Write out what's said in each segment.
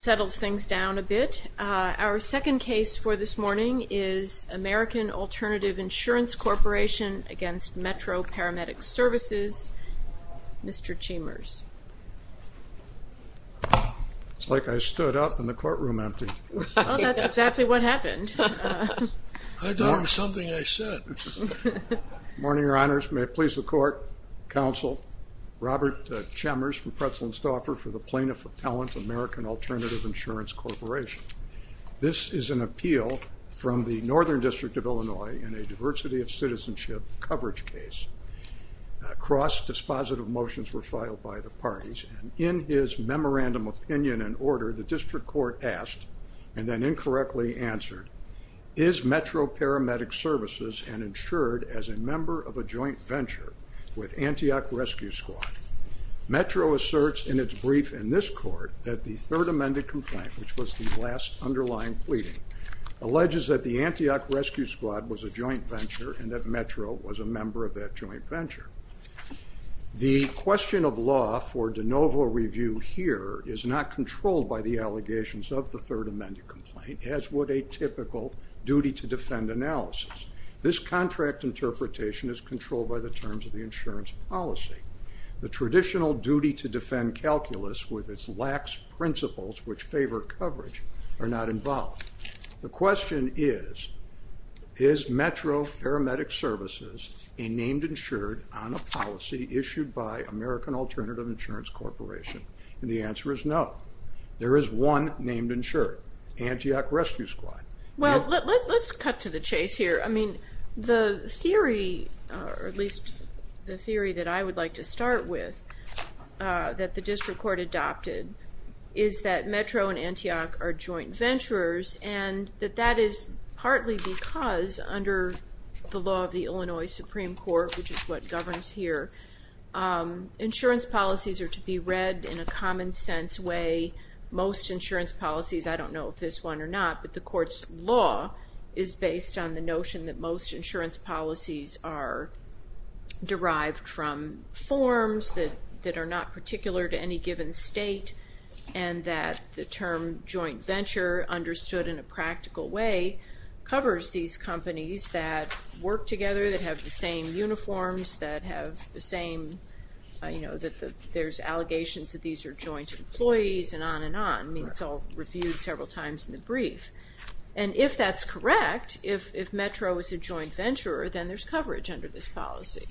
It settles things down a bit. Our second case for this morning is American Alternative Insurance Corporation v. Metro Paramedic Services. Mr. Chambers. It's like I stood up and the courtroom emptied. Well, that's exactly what happened. I thought it was something I said. Good morning, your honors. May it please the court, counsel. Robert Chambers from Pretzel & Stauffer for the Plaintiff Appellant, American Alternative Insurance Corporation. This is an appeal from the Northern District of Illinois in a diversity of citizenship coverage case. Cross-dispositive motions were filed by the parties. In his memorandum opinion and order, the district court asked and then incorrectly answered, Is Metro Paramedic Services and insured as a member of a joint venture with Antioch Rescue Squad? Metro asserts in its brief in this court that the third amended complaint, which was the last underlying pleading, alleges that the Antioch Rescue Squad was a joint venture and that Metro was a member of that joint venture. The question of law for de novo review here is not controlled by the allegations of the third amended complaint, as would a typical duty to defend analysis. This contract interpretation is controlled by the terms of the insurance policy. The traditional duty to defend calculus with its lax principles, which favor coverage, are not involved. The question is, is Metro Paramedic Services a named insured on a policy issued by American Alternative Insurance Corporation? And the answer is no. There is one named insured, Antioch Rescue Squad. Well, let's cut to the chase here. I mean, the theory, or at least the theory that I would like to start with, that the district court adopted is that Metro and Antioch are joint venturers and that that is partly because under the law of the Illinois Supreme Court, which is what governs here, insurance policies are to be read in a common sense way. Most insurance policies, I don't know if this one or not, but the court's law is based on the notion that most insurance policies are derived from forms that are not particular to any given state and that the term joint venture, understood in a practical way, covers these companies that work together, that have the same uniforms, that have the same, you know, that there's allegations that these are joint employees and on and on. I mean, it's all reviewed several times in the brief. And if that's correct, if Metro is a joint venture, then there's coverage under this policy.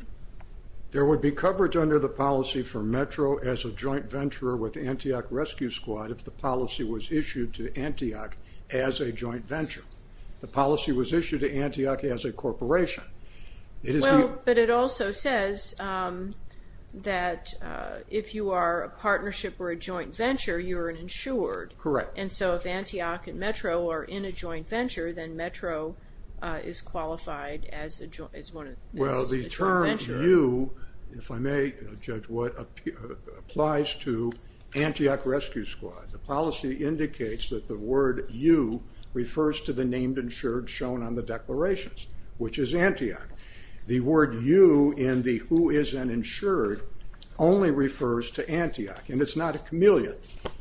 There would be coverage under the policy for Metro as a joint venture with Antioch Rescue Squad if the policy was issued to Antioch as a joint venture. The policy was issued to Antioch as a corporation. Well, but it also says that if you are a partnership or a joint venture, you're an insured. Correct. And so if Antioch and Metro are in a joint venture, then Metro is qualified as a joint venture. Well, the term you, if I may judge what, applies to Antioch Rescue Squad. The policy indicates that the word you refers to the named insured shown on the declarations, which is Antioch. The word you in the who is an insured only refers to Antioch, and it's not a camellia.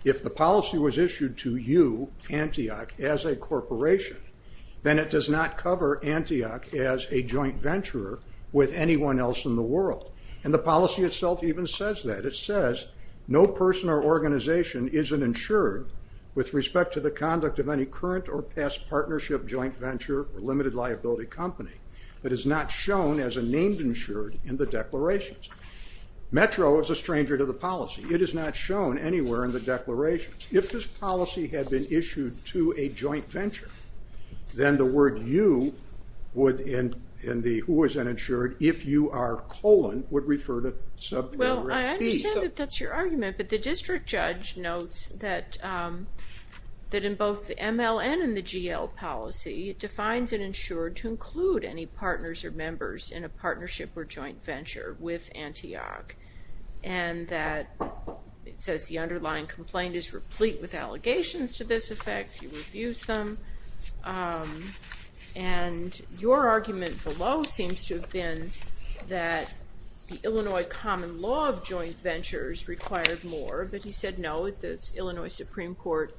If the policy was issued to you, Antioch, as a corporation, then it does not cover Antioch as a joint venture with anyone else in the world. And the policy itself even says that. It says no person or organization is an insured with respect to the conduct of any current or past partnership, joint venture, or limited liability company that is not shown as a named insured in the declarations. Metro is a stranger to the policy. It is not shown anywhere in the declarations. If this policy had been issued to a joint venture, then the word you would, in the who is an insured, if you are colon would refer to subarea B. Well, I understand that that's your argument, but the district judge notes that in both the MLN and the GL policy, it defines an insured to include any partners or members in a partnership or joint venture with Antioch, and that it says the underlying complaint is replete with allegations to this effect. You refuse them. And your argument below seems to have been that the Illinois common law of joint ventures required more, but he said no, the Illinois Supreme Court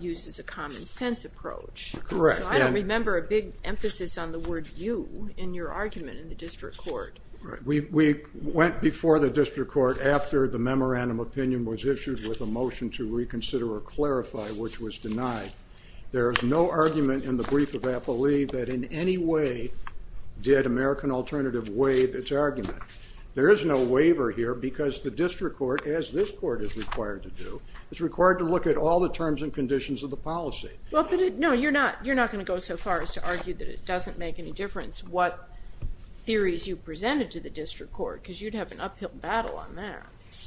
uses a common sense approach. Correct. I don't remember a big emphasis on the word you in your argument in the district court. We went before the district court after the memorandum of opinion was issued with a motion to reconsider or clarify, which was denied. There is no argument in the brief of APOE that in any way did American Alternative waive its argument. There is no waiver here because the district court, as this court is required to do, is required to look at all the terms and conditions of the policy. No, you're not going to go so far as to argue that it doesn't make any difference what theories you presented to the district court, because you'd have an uphill battle on that.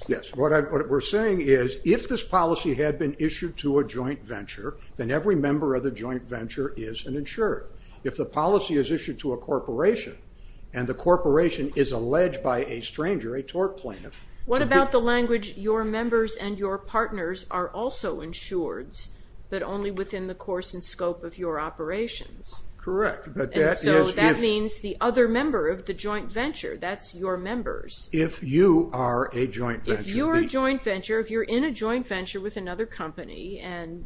Yes. What we're saying is if this policy had been issued to a joint venture, then every member of the joint venture is an insured. If the policy is issued to a corporation and the corporation is alleged by a stranger, a tort plaintiff. What about the language, your members and your partners are also insureds, but only within the course and scope of your operations? Correct. That means the other member of the joint venture, that's your members. If you are a joint venture. If you're a joint venture, if you're in a joint venture with another company and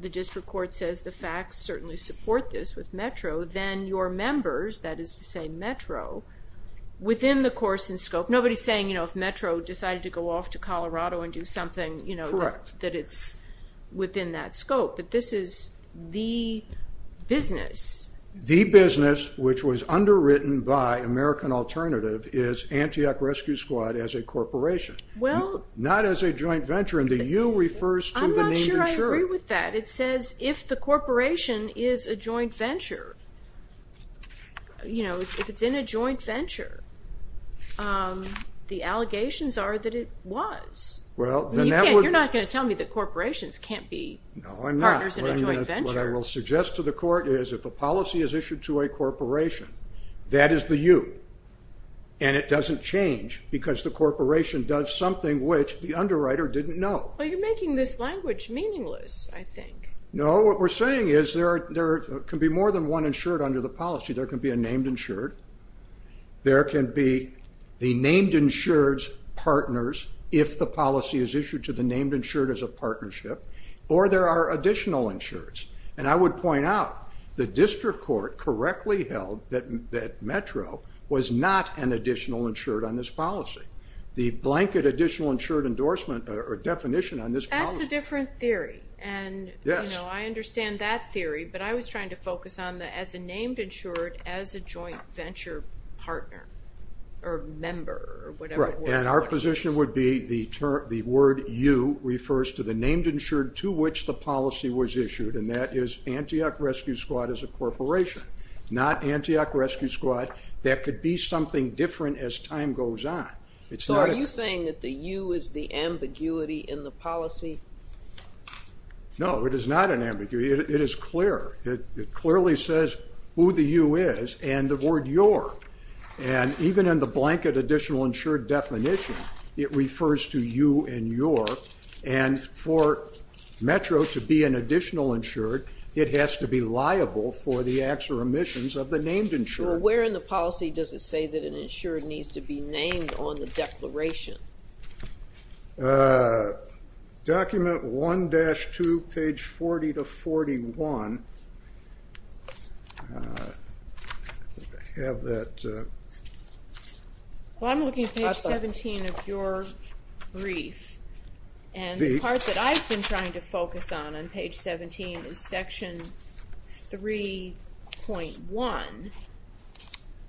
the district court says the facts certainly support this with METRO, then your members, that is to say METRO, within the course and scope. Nobody's saying if METRO decided to go off to Colorado and do something, that it's within that scope. This is the business. The business, which was underwritten by American Alternative, is Antioch Rescue Squad as a corporation, not as a joint venture. The you refers to the name insured. I'm not sure I agree with that. It says if the corporation is a joint venture, if it's in a joint venture, the allegations are that it was. You're not going to tell me that corporations can't be partners in a joint venture. What I will suggest to the court is if a policy is issued to a corporation, that is the you, and it doesn't change because the corporation does something which the underwriter didn't know. Well, you're making this language meaningless, I think. No, what we're saying is there can be more than one insured under the policy. There can be a named insured. There can be the named insured's partners if the policy is issued to the named insured as a partnership, or there are additional insureds. I would point out the district court correctly held that METRO was not an additional insured on this policy. The blanket additional insured endorsement or definition on this policy. That's a different theory, and I understand that theory, but I was trying to focus on the as a named insured, as a joint venture partner or member or whatever the word was. Right, and our position would be the word you refers to the named insured to which the policy was issued, and that is Antioch Rescue Squad as a corporation, not Antioch Rescue Squad. That could be something different as time goes on. So are you saying that the you is the ambiguity in the policy? No, it is not an ambiguity. It is clear. It clearly says who the you is and the word your, and even in the blanket additional insured definition, it refers to you and your, and for METRO to be an additional insured, it has to be liable for the acts or omissions of the named insured. So where in the policy does it say that an insured needs to be named on the declaration? Document 1-2, page 40 to 41. I think I have that. Well, I'm looking at page 17 of your brief, and the part that I've been trying to focus on on page 17 is section 3.1, and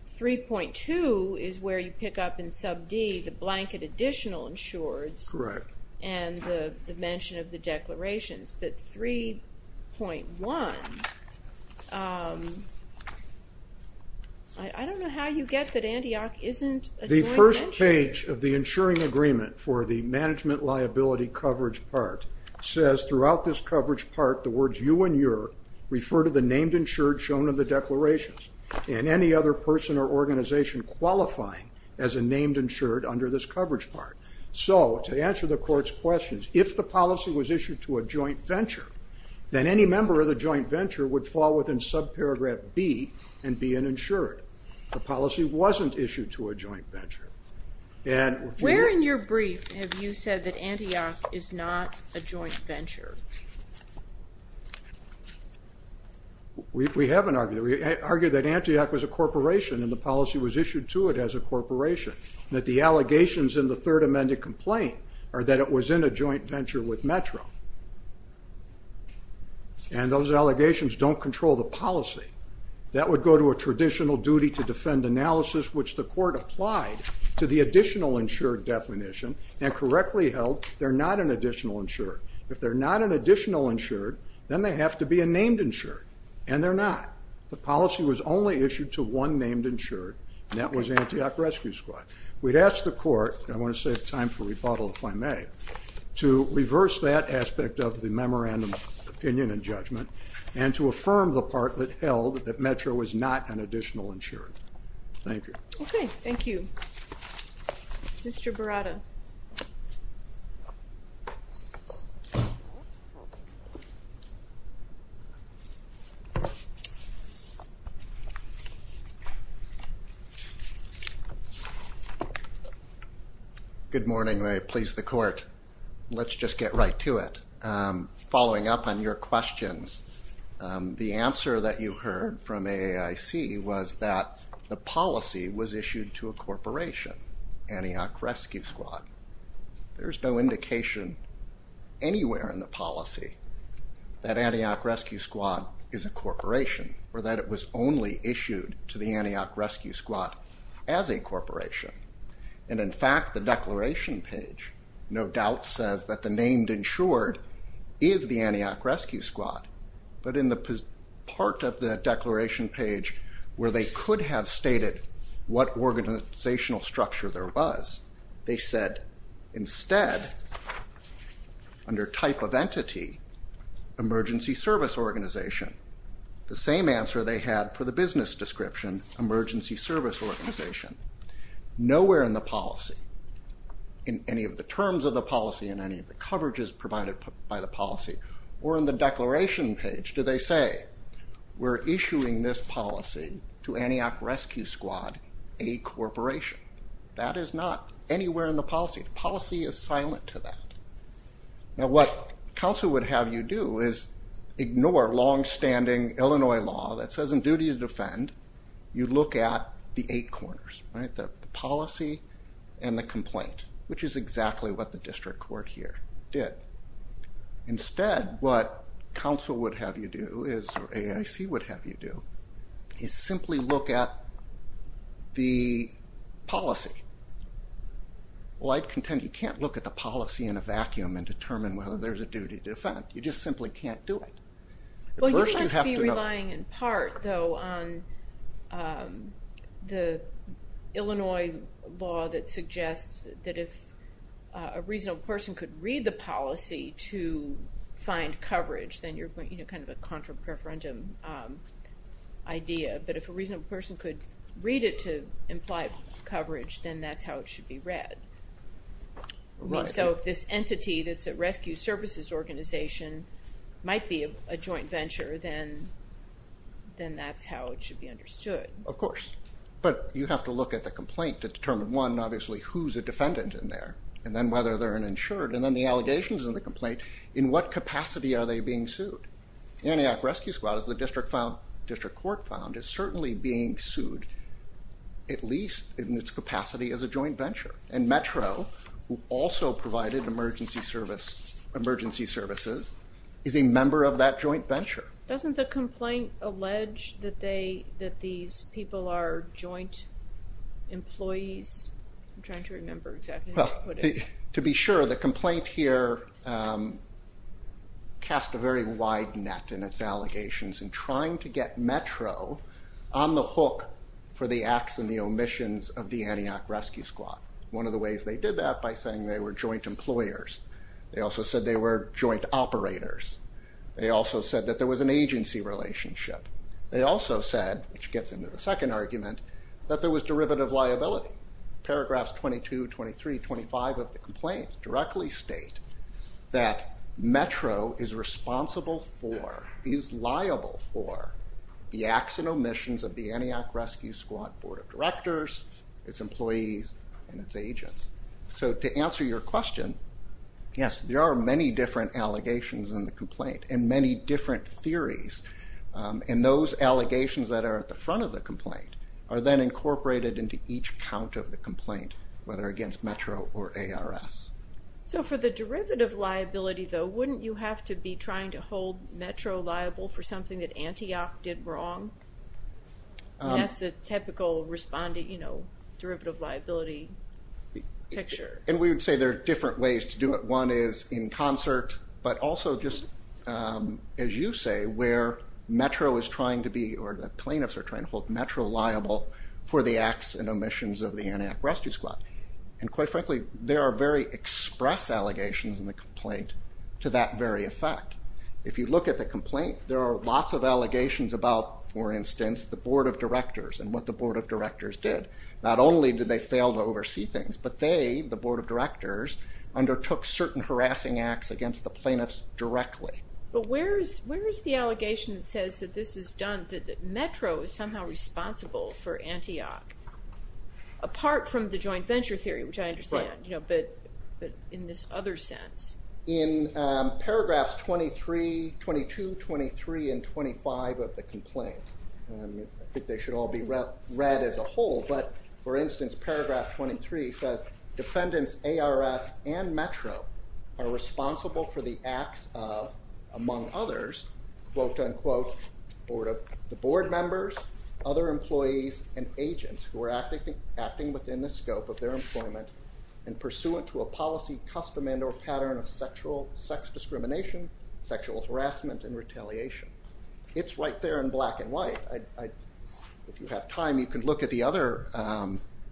3.2 is where you pick up in sub D the blanket additional insureds and the mention of the declarations. But 3.1, I don't know how you get that Antioch isn't a joint insured. The first page of the insuring agreement for the management liability coverage part says throughout this coverage part the words you and your refer to the named insured shown in the declarations, and any other person or organization qualifying as a named insured under this coverage part. So to answer the court's questions, if the policy was issued to a joint venture then any member of the joint venture would fall within subparagraph B and be an insured. The policy wasn't issued to a joint venture. Where in your brief have you said that Antioch is not a joint venture? We haven't argued that. We argued that Antioch was a corporation and the policy was issued to it as a corporation. That the allegations in the third amended complaint are that it was in a joint venture with Metro, and those allegations don't control the policy. That would go to a traditional duty to defend analysis, which the court applied to the additional insured definition, and correctly held they're not an additional insured. If they're not an additional insured, then they have to be a named insured, and they're not. The policy was only issued to one named insured, and that was Antioch Rescue Squad. We'd ask the court, and I want to save time for rebuttal if I may, to reverse that aspect of the memorandum of opinion and judgment, and to affirm the part that held that Metro was not an additional insured. Thank you. Okay. Thank you. Mr. Baratta. Good morning. May it please the court. Let's just get right to it. Following up on your questions, the answer that you heard from AAIC was that the policy was issued to a corporation, Antioch Rescue Squad. There's no indication anywhere in the policy that Antioch Rescue Squad is a corporation, or that it was only issued to the Antioch Rescue Squad as a corporation, and in fact the declaration page no doubt says that the named insured is the Antioch Rescue Squad, but in the part of the declaration page where they could have stated what organizational structure there was, they said instead, under type of entity, emergency service organization. The same answer they had for the business description, emergency service organization. Nowhere in the policy, in any of the terms of the policy, in any of the coverages provided by the policy, or in the declaration page, do they say we're issuing this policy to Antioch Rescue Squad, a corporation. That is not anywhere in the policy. The policy is silent to that. Now what counsel would have you do is ignore longstanding Illinois law that says in duty to defend, you look at the eight corners, right, the policy and the complaint, which is exactly what the district court here did. Instead, what counsel would have you do is, or AIC would have you do, is simply look at the policy. Well, I'd contend you can't look at the policy in a vacuum and determine whether there's a duty to defend. You just simply can't do it. Well, you must be relying in part, though, on the Illinois law that suggests that if a reasonable person could read the policy to find coverage, then you're kind of a contra-preferendum idea. But if a reasonable person could read it to imply coverage, then that's how it should be read. Right. So if this entity that's a rescue services organization might be a joint venture, then that's how it should be understood. Of course. But you have to look at the complaint to determine, one, obviously who's a defendant in there, and then whether they're an insured, and then the allegations in the complaint, in what capacity are they being sued? Antioch Rescue Squad, as the district court found, is certainly being sued at least in its capacity as a joint venture. And Metro, who also provided emergency services, is a member of that joint venture. Doesn't the complaint allege that these people are joint employees? I'm trying to remember exactly how to put it. Well, to be sure, the complaint here casts a very wide net in its allegations in trying to get Metro on the hook for the acts and the omissions of the Antioch Rescue Squad. One of the ways they did that by saying they were joint employers. They also said they were joint operators. They also said that there was an agency relationship. They also said, which gets into the second argument, that there was derivative liability. Paragraphs 22, 23, 25 of the complaint directly state that Metro is responsible for, is liable for the acts and omissions of the Antioch Rescue Squad Board of Directors, its employees, and its agents. So to answer your question, yes, there are many different allegations in the complaint and many different theories. And those allegations that are at the front of the complaint are then incorporated into each count of the complaint, whether against Metro or ARS. So for the derivative liability, though, wouldn't you have to be trying to hold Metro liable for something that Antioch did wrong? That's a typical respondent, you know, derivative liability picture. And we would say there are different ways to do it. One is in concert, but also just, as you say, where Metro is trying to be or the plaintiffs are trying to hold Metro liable for the acts and omissions of the Antioch Rescue Squad. And quite frankly, there are very express allegations in the complaint to that very effect. If you look at the complaint, there are lots of allegations about, for instance, the Board of Directors and what the Board of Directors did. Not only did they fail to oversee things, but they, the Board of Directors, undertook certain harassing acts against the plaintiffs directly. But where is the allegation that says that this is done, that Metro is somehow responsible for Antioch? Apart from the joint venture theory, which I understand, but in this other sense. In paragraphs 23, 22, 23, and 25 of the complaint, I think they should all be read as a whole, but, for instance, paragraph 23 says, Defendants ARS and Metro are responsible for the acts of, among others, quote, unquote, the Board members, other employees, and agents who are acting within the scope of their employment and pursuant to a policy custom and or pattern of sexual sex discrimination, sexual harassment, and retaliation. It's right there in black and white. If you have time, you can look at the other,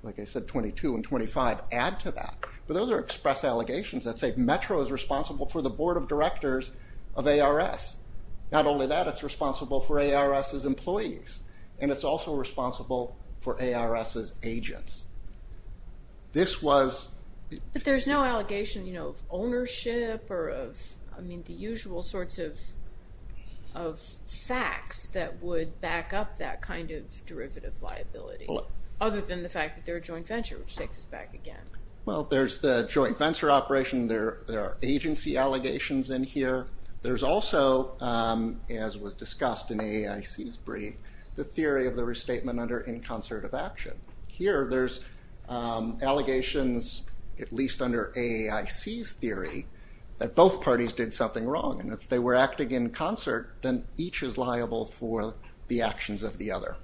like I said, 22 and 25, add to that. But those are express allegations that say Metro is responsible for the Board of Directors of ARS. Not only that, it's responsible for ARS's employees, and it's also responsible for ARS's agents. This was... But there's no allegation, you know, of ownership or of, I mean, the usual sorts of facts that would back up that kind of derivative liability, other than the fact that they're a joint venture, which takes us back again. Well, there's the joint venture operation. There are agency allegations in here. There's also, as was discussed in AAIC's brief, the theory of the restatement under in concert of action. Here there's allegations, at least under AAIC's theory, that both parties did something wrong, and if they were acting in concert, then each is liable for the actions of the other.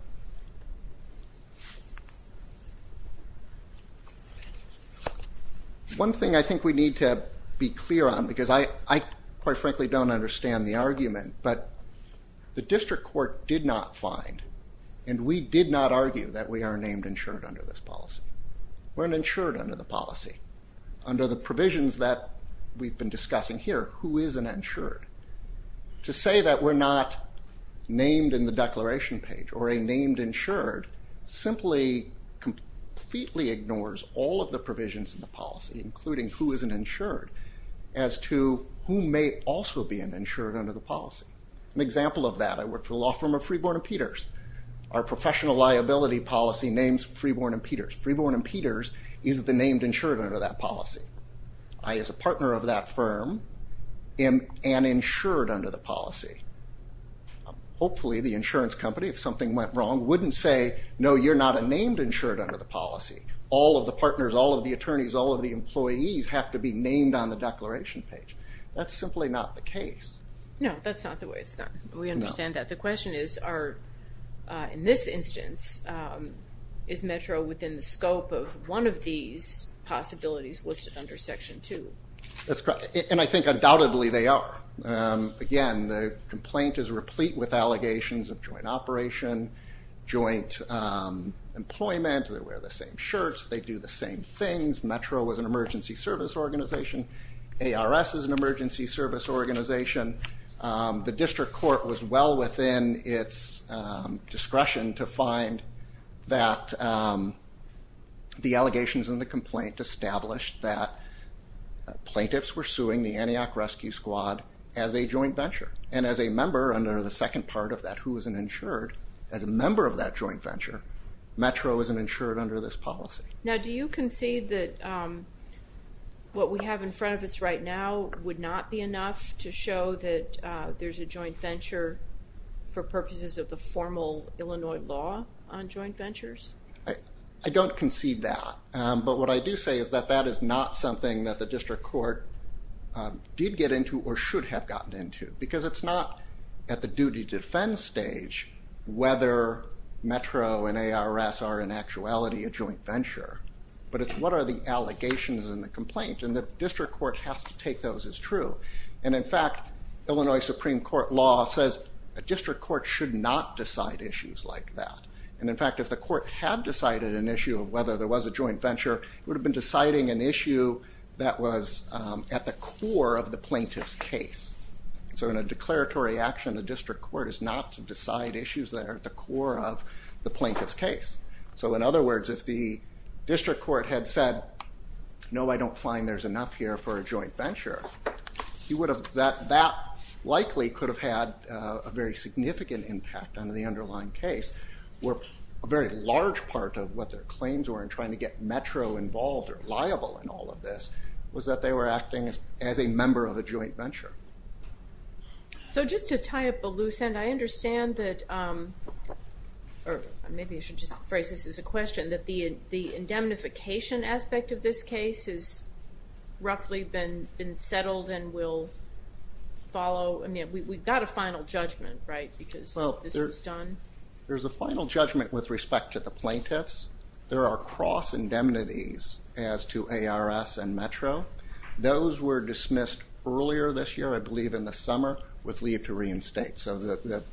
One thing I think we need to be clear on, because I quite frankly don't understand the argument, but the district court did not find and we did not argue that we are named insured under this policy. We're an insured under the policy. Under the provisions that we've been discussing here, who is an insured? To say that we're not named in the declaration page or a named insured simply completely ignores all of the provisions in the policy, including who is an insured, as to who may also be an insured under the policy. An example of that, I work for the law firm of Freeborn & Peters. Our professional liability policy names Freeborn & Peters. Freeborn & Peters is the named insured under that policy. I, as a partner of that firm, am an insured under the policy. Hopefully the insurance company, if something went wrong, wouldn't say, no, you're not a named insured under the policy. All of the partners, all of the attorneys, all of the employees have to be named on the declaration page. That's simply not the case. No, that's not the way it's done. We understand that. The question is, in this instance, is Metro within the scope of one of these possibilities listed under Section 2? That's correct, and I think undoubtedly they are. Again, the complaint is replete with allegations of joint operation, joint employment, they wear the same shirts, they do the same things. Metro was an emergency service organization. ARS is an emergency service organization. The district court was well within its discretion to find that the allegations in the complaint established that plaintiffs were suing the Antioch Rescue Squad as a joint venture. As a member under the second part of that, who is an insured, as a member of that joint venture, Metro is an insured under this policy. Now, do you concede that what we have in front of us right now would not be enough to show that there's a joint venture for purposes of the formal Illinois law on joint ventures? I don't concede that, but what I do say is that that is not something that the district court did get into or should have gotten into because it's not at the duty to defend stage whether Metro and ARS are in actuality a joint venture, but it's what are the allegations in the complaint, and the district court has to take those as true. In fact, Illinois Supreme Court law says a district court should not decide issues like that. In fact, if the court had decided an issue of whether there was a joint venture, it would have been deciding an issue that was at the core of the plaintiff's case. So in a declaratory action, a district court is not to decide issues that are at the core of the plaintiff's case. So in other words, if the district court had said, no, I don't find there's enough here for a joint venture, that likely could have had a very significant impact on the underlying case where a very large part of what their claims were in trying to get Metro involved or liable in all of this was that they were acting as a member of a joint venture. So just to tie up a loose end, I understand that, or maybe I should just phrase this as a question, that the indemnification aspect of this case has roughly been settled and will follow. I mean, we've got a final judgment, right, because this was done? There's a final judgment with respect to the plaintiffs. There are cross-indemnities as to ARS and Metro. Those were dismissed earlier this year, I believe in the summer, with leave to reinstate. So the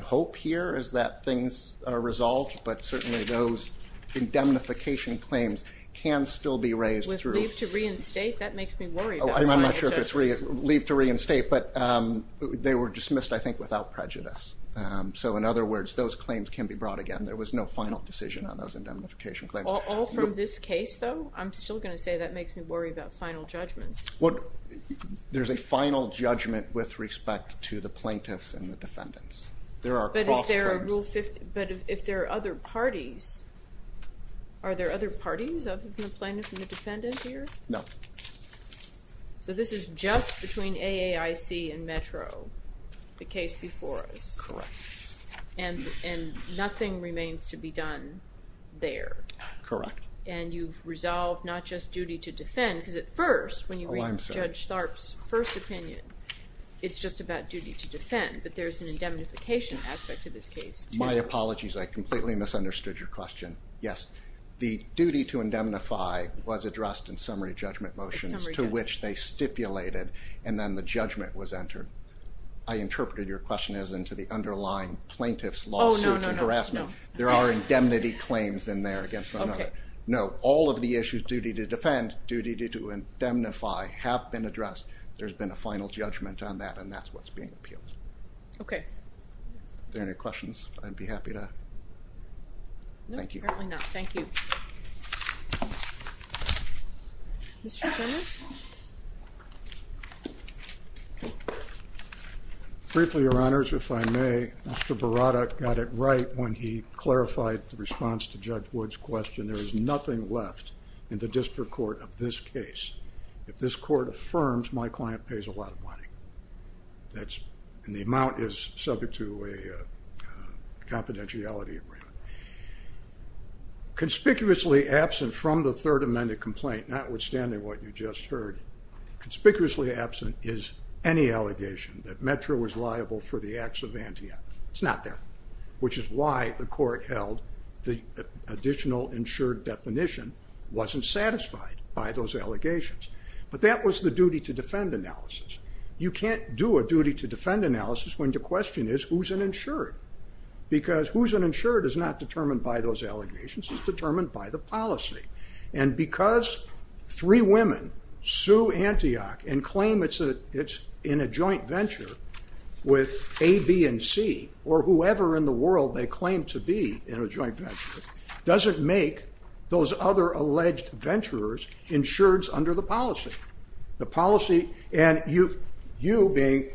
hope here is that things are resolved, but certainly those indemnification claims can still be raised through. With leave to reinstate? That makes me worry about the final judgment. I'm not sure if it's leave to reinstate, but they were dismissed, I think, without prejudice. So in other words, those claims can be brought again. There was no final decision on those indemnification claims. All from this case, though? I'm still going to say that makes me worry about final judgments. Well, there's a final judgment with respect to the plaintiffs and the defendants. But if there are other parties, are there other parties other than the plaintiff and the defendant here? No. So this is just between AAIC and Metro, the case before us. Correct. And nothing remains to be done there. Correct. And you've resolved not just duty to defend, because at first, when you read Judge Tharp's first opinion, it's just about duty to defend. But there's an indemnification aspect to this case. My apologies. I completely misunderstood your question. Yes. The duty to indemnify was addressed in summary judgment motions, to which they stipulated, and then the judgment was entered. I interpreted your question as into the underlying plaintiff's lawsuit. Oh, no, no, no. There are indemnity claims in there against one another. No, all of the issues, duty to defend, duty to indemnify, have been addressed. There's been a final judgment on that, and that's what's being appealed. Okay. Are there any questions? I'd be happy to. No, apparently not. Thank you. Mr. Jennings? Briefly, Your Honors, if I may, Mr. Berada got it right when he clarified the response to Judge Wood's question. There is nothing left in the district court of this case. If this court affirms, my client pays a lot of money, and the amount is subject to a confidentiality agreement. Conspicuously absent from the third amended complaint, notwithstanding what you just heard, conspicuously absent is any allegation that Metro was liable for the acts of Antia. It's not there. Which is why the court held the additional insured definition wasn't satisfied by those allegations. But that was the duty to defend analysis. You can't do a duty to defend analysis when the question is, who's an insured? Because who's an insured is not determined by those allegations, it's determined by the policy. And because three women sue Antioch and claim it's in a joint venture with A, B, and C, or whoever in the world they claim to be in a joint venture, doesn't make those other alleged venturers insureds under the policy. The policy, and you being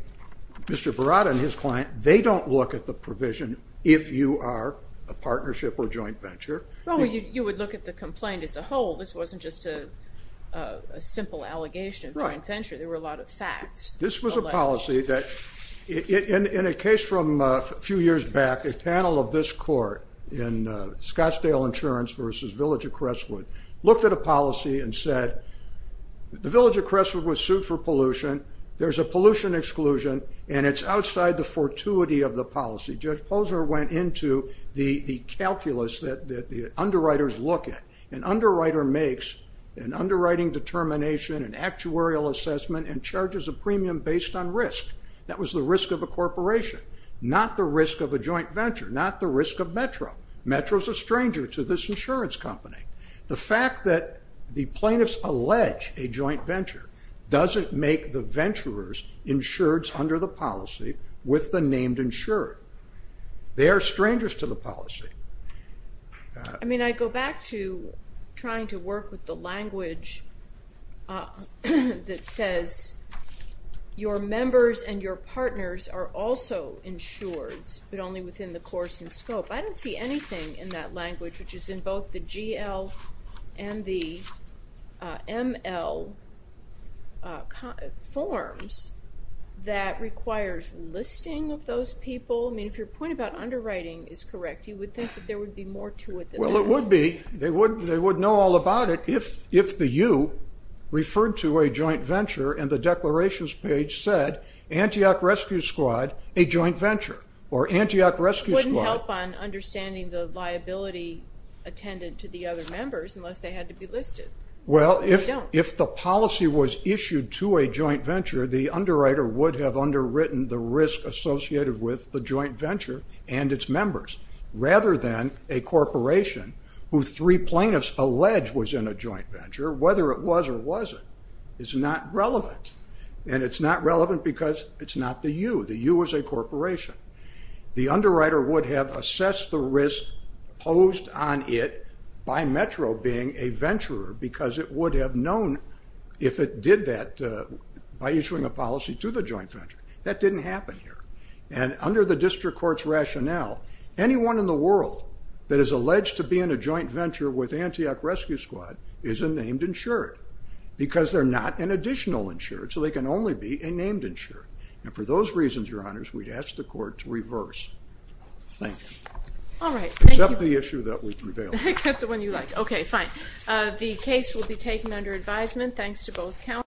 Mr. Berada and his client, they don't look at the provision if you are a partnership or joint venture. Well, you would look at the complaint as a whole. This wasn't just a simple allegation of joint venture. There were a lot of facts. This was a policy that in a case from a few years back, a panel of this court in Scottsdale Insurance versus Village of Crestwood looked at a policy and said, the Village of Crestwood was sued for pollution. There's a pollution exclusion, and it's outside the fortuity of the policy. Judge Posner went into the calculus that the underwriters look at. An underwriter makes an underwriting determination, an actuarial assessment, and charges a premium based on risk. That was the risk of a corporation, not the risk of a joint venture, not the risk of Metro. Metro's a stranger to this insurance company. The fact that the plaintiffs allege a joint venture doesn't make the venturers insureds under the policy with the named insurer. They are strangers to the policy. I mean, I go back to trying to work with the language that says, your members and your partners are also insureds, but only within the course and scope. I don't see anything in that language, which is in both the GL and the ML forms, that requires listing of those people. I mean, if your point about underwriting is correct, you would think that there would be more to it than that. Well, it would be. They would know all about it if the you referred to a joint venture, and the declarations page said, Antioch Rescue Squad, a joint venture, or Antioch Rescue Squad. It wouldn't help on understanding the liability attended to the other members unless they had to be listed. Well, if the policy was issued to a joint venture, the underwriter would have underwritten the risk associated with the joint venture and its members. Rather than a corporation who three plaintiffs allege was in a joint venture, whether it was or wasn't, is not relevant. And it's not relevant because it's not the you. The you is a corporation. The underwriter would have assessed the risk posed on it by Metro being a venturer because it would have known if it did that by issuing a policy to the joint venture. That didn't happen here. And under the district court's rationale, anyone in the world that is alleged to be in a joint venture with Antioch Rescue Squad is a named insured because they're not an additional insured, so they can only be a named insured. And for those reasons, Your Honors, we'd ask the court to reverse. Thank you. All right. Thank you. Except the issue that would prevail. Except the one you like. Okay, fine. The case will be taken under advisement. Thanks to both counsel.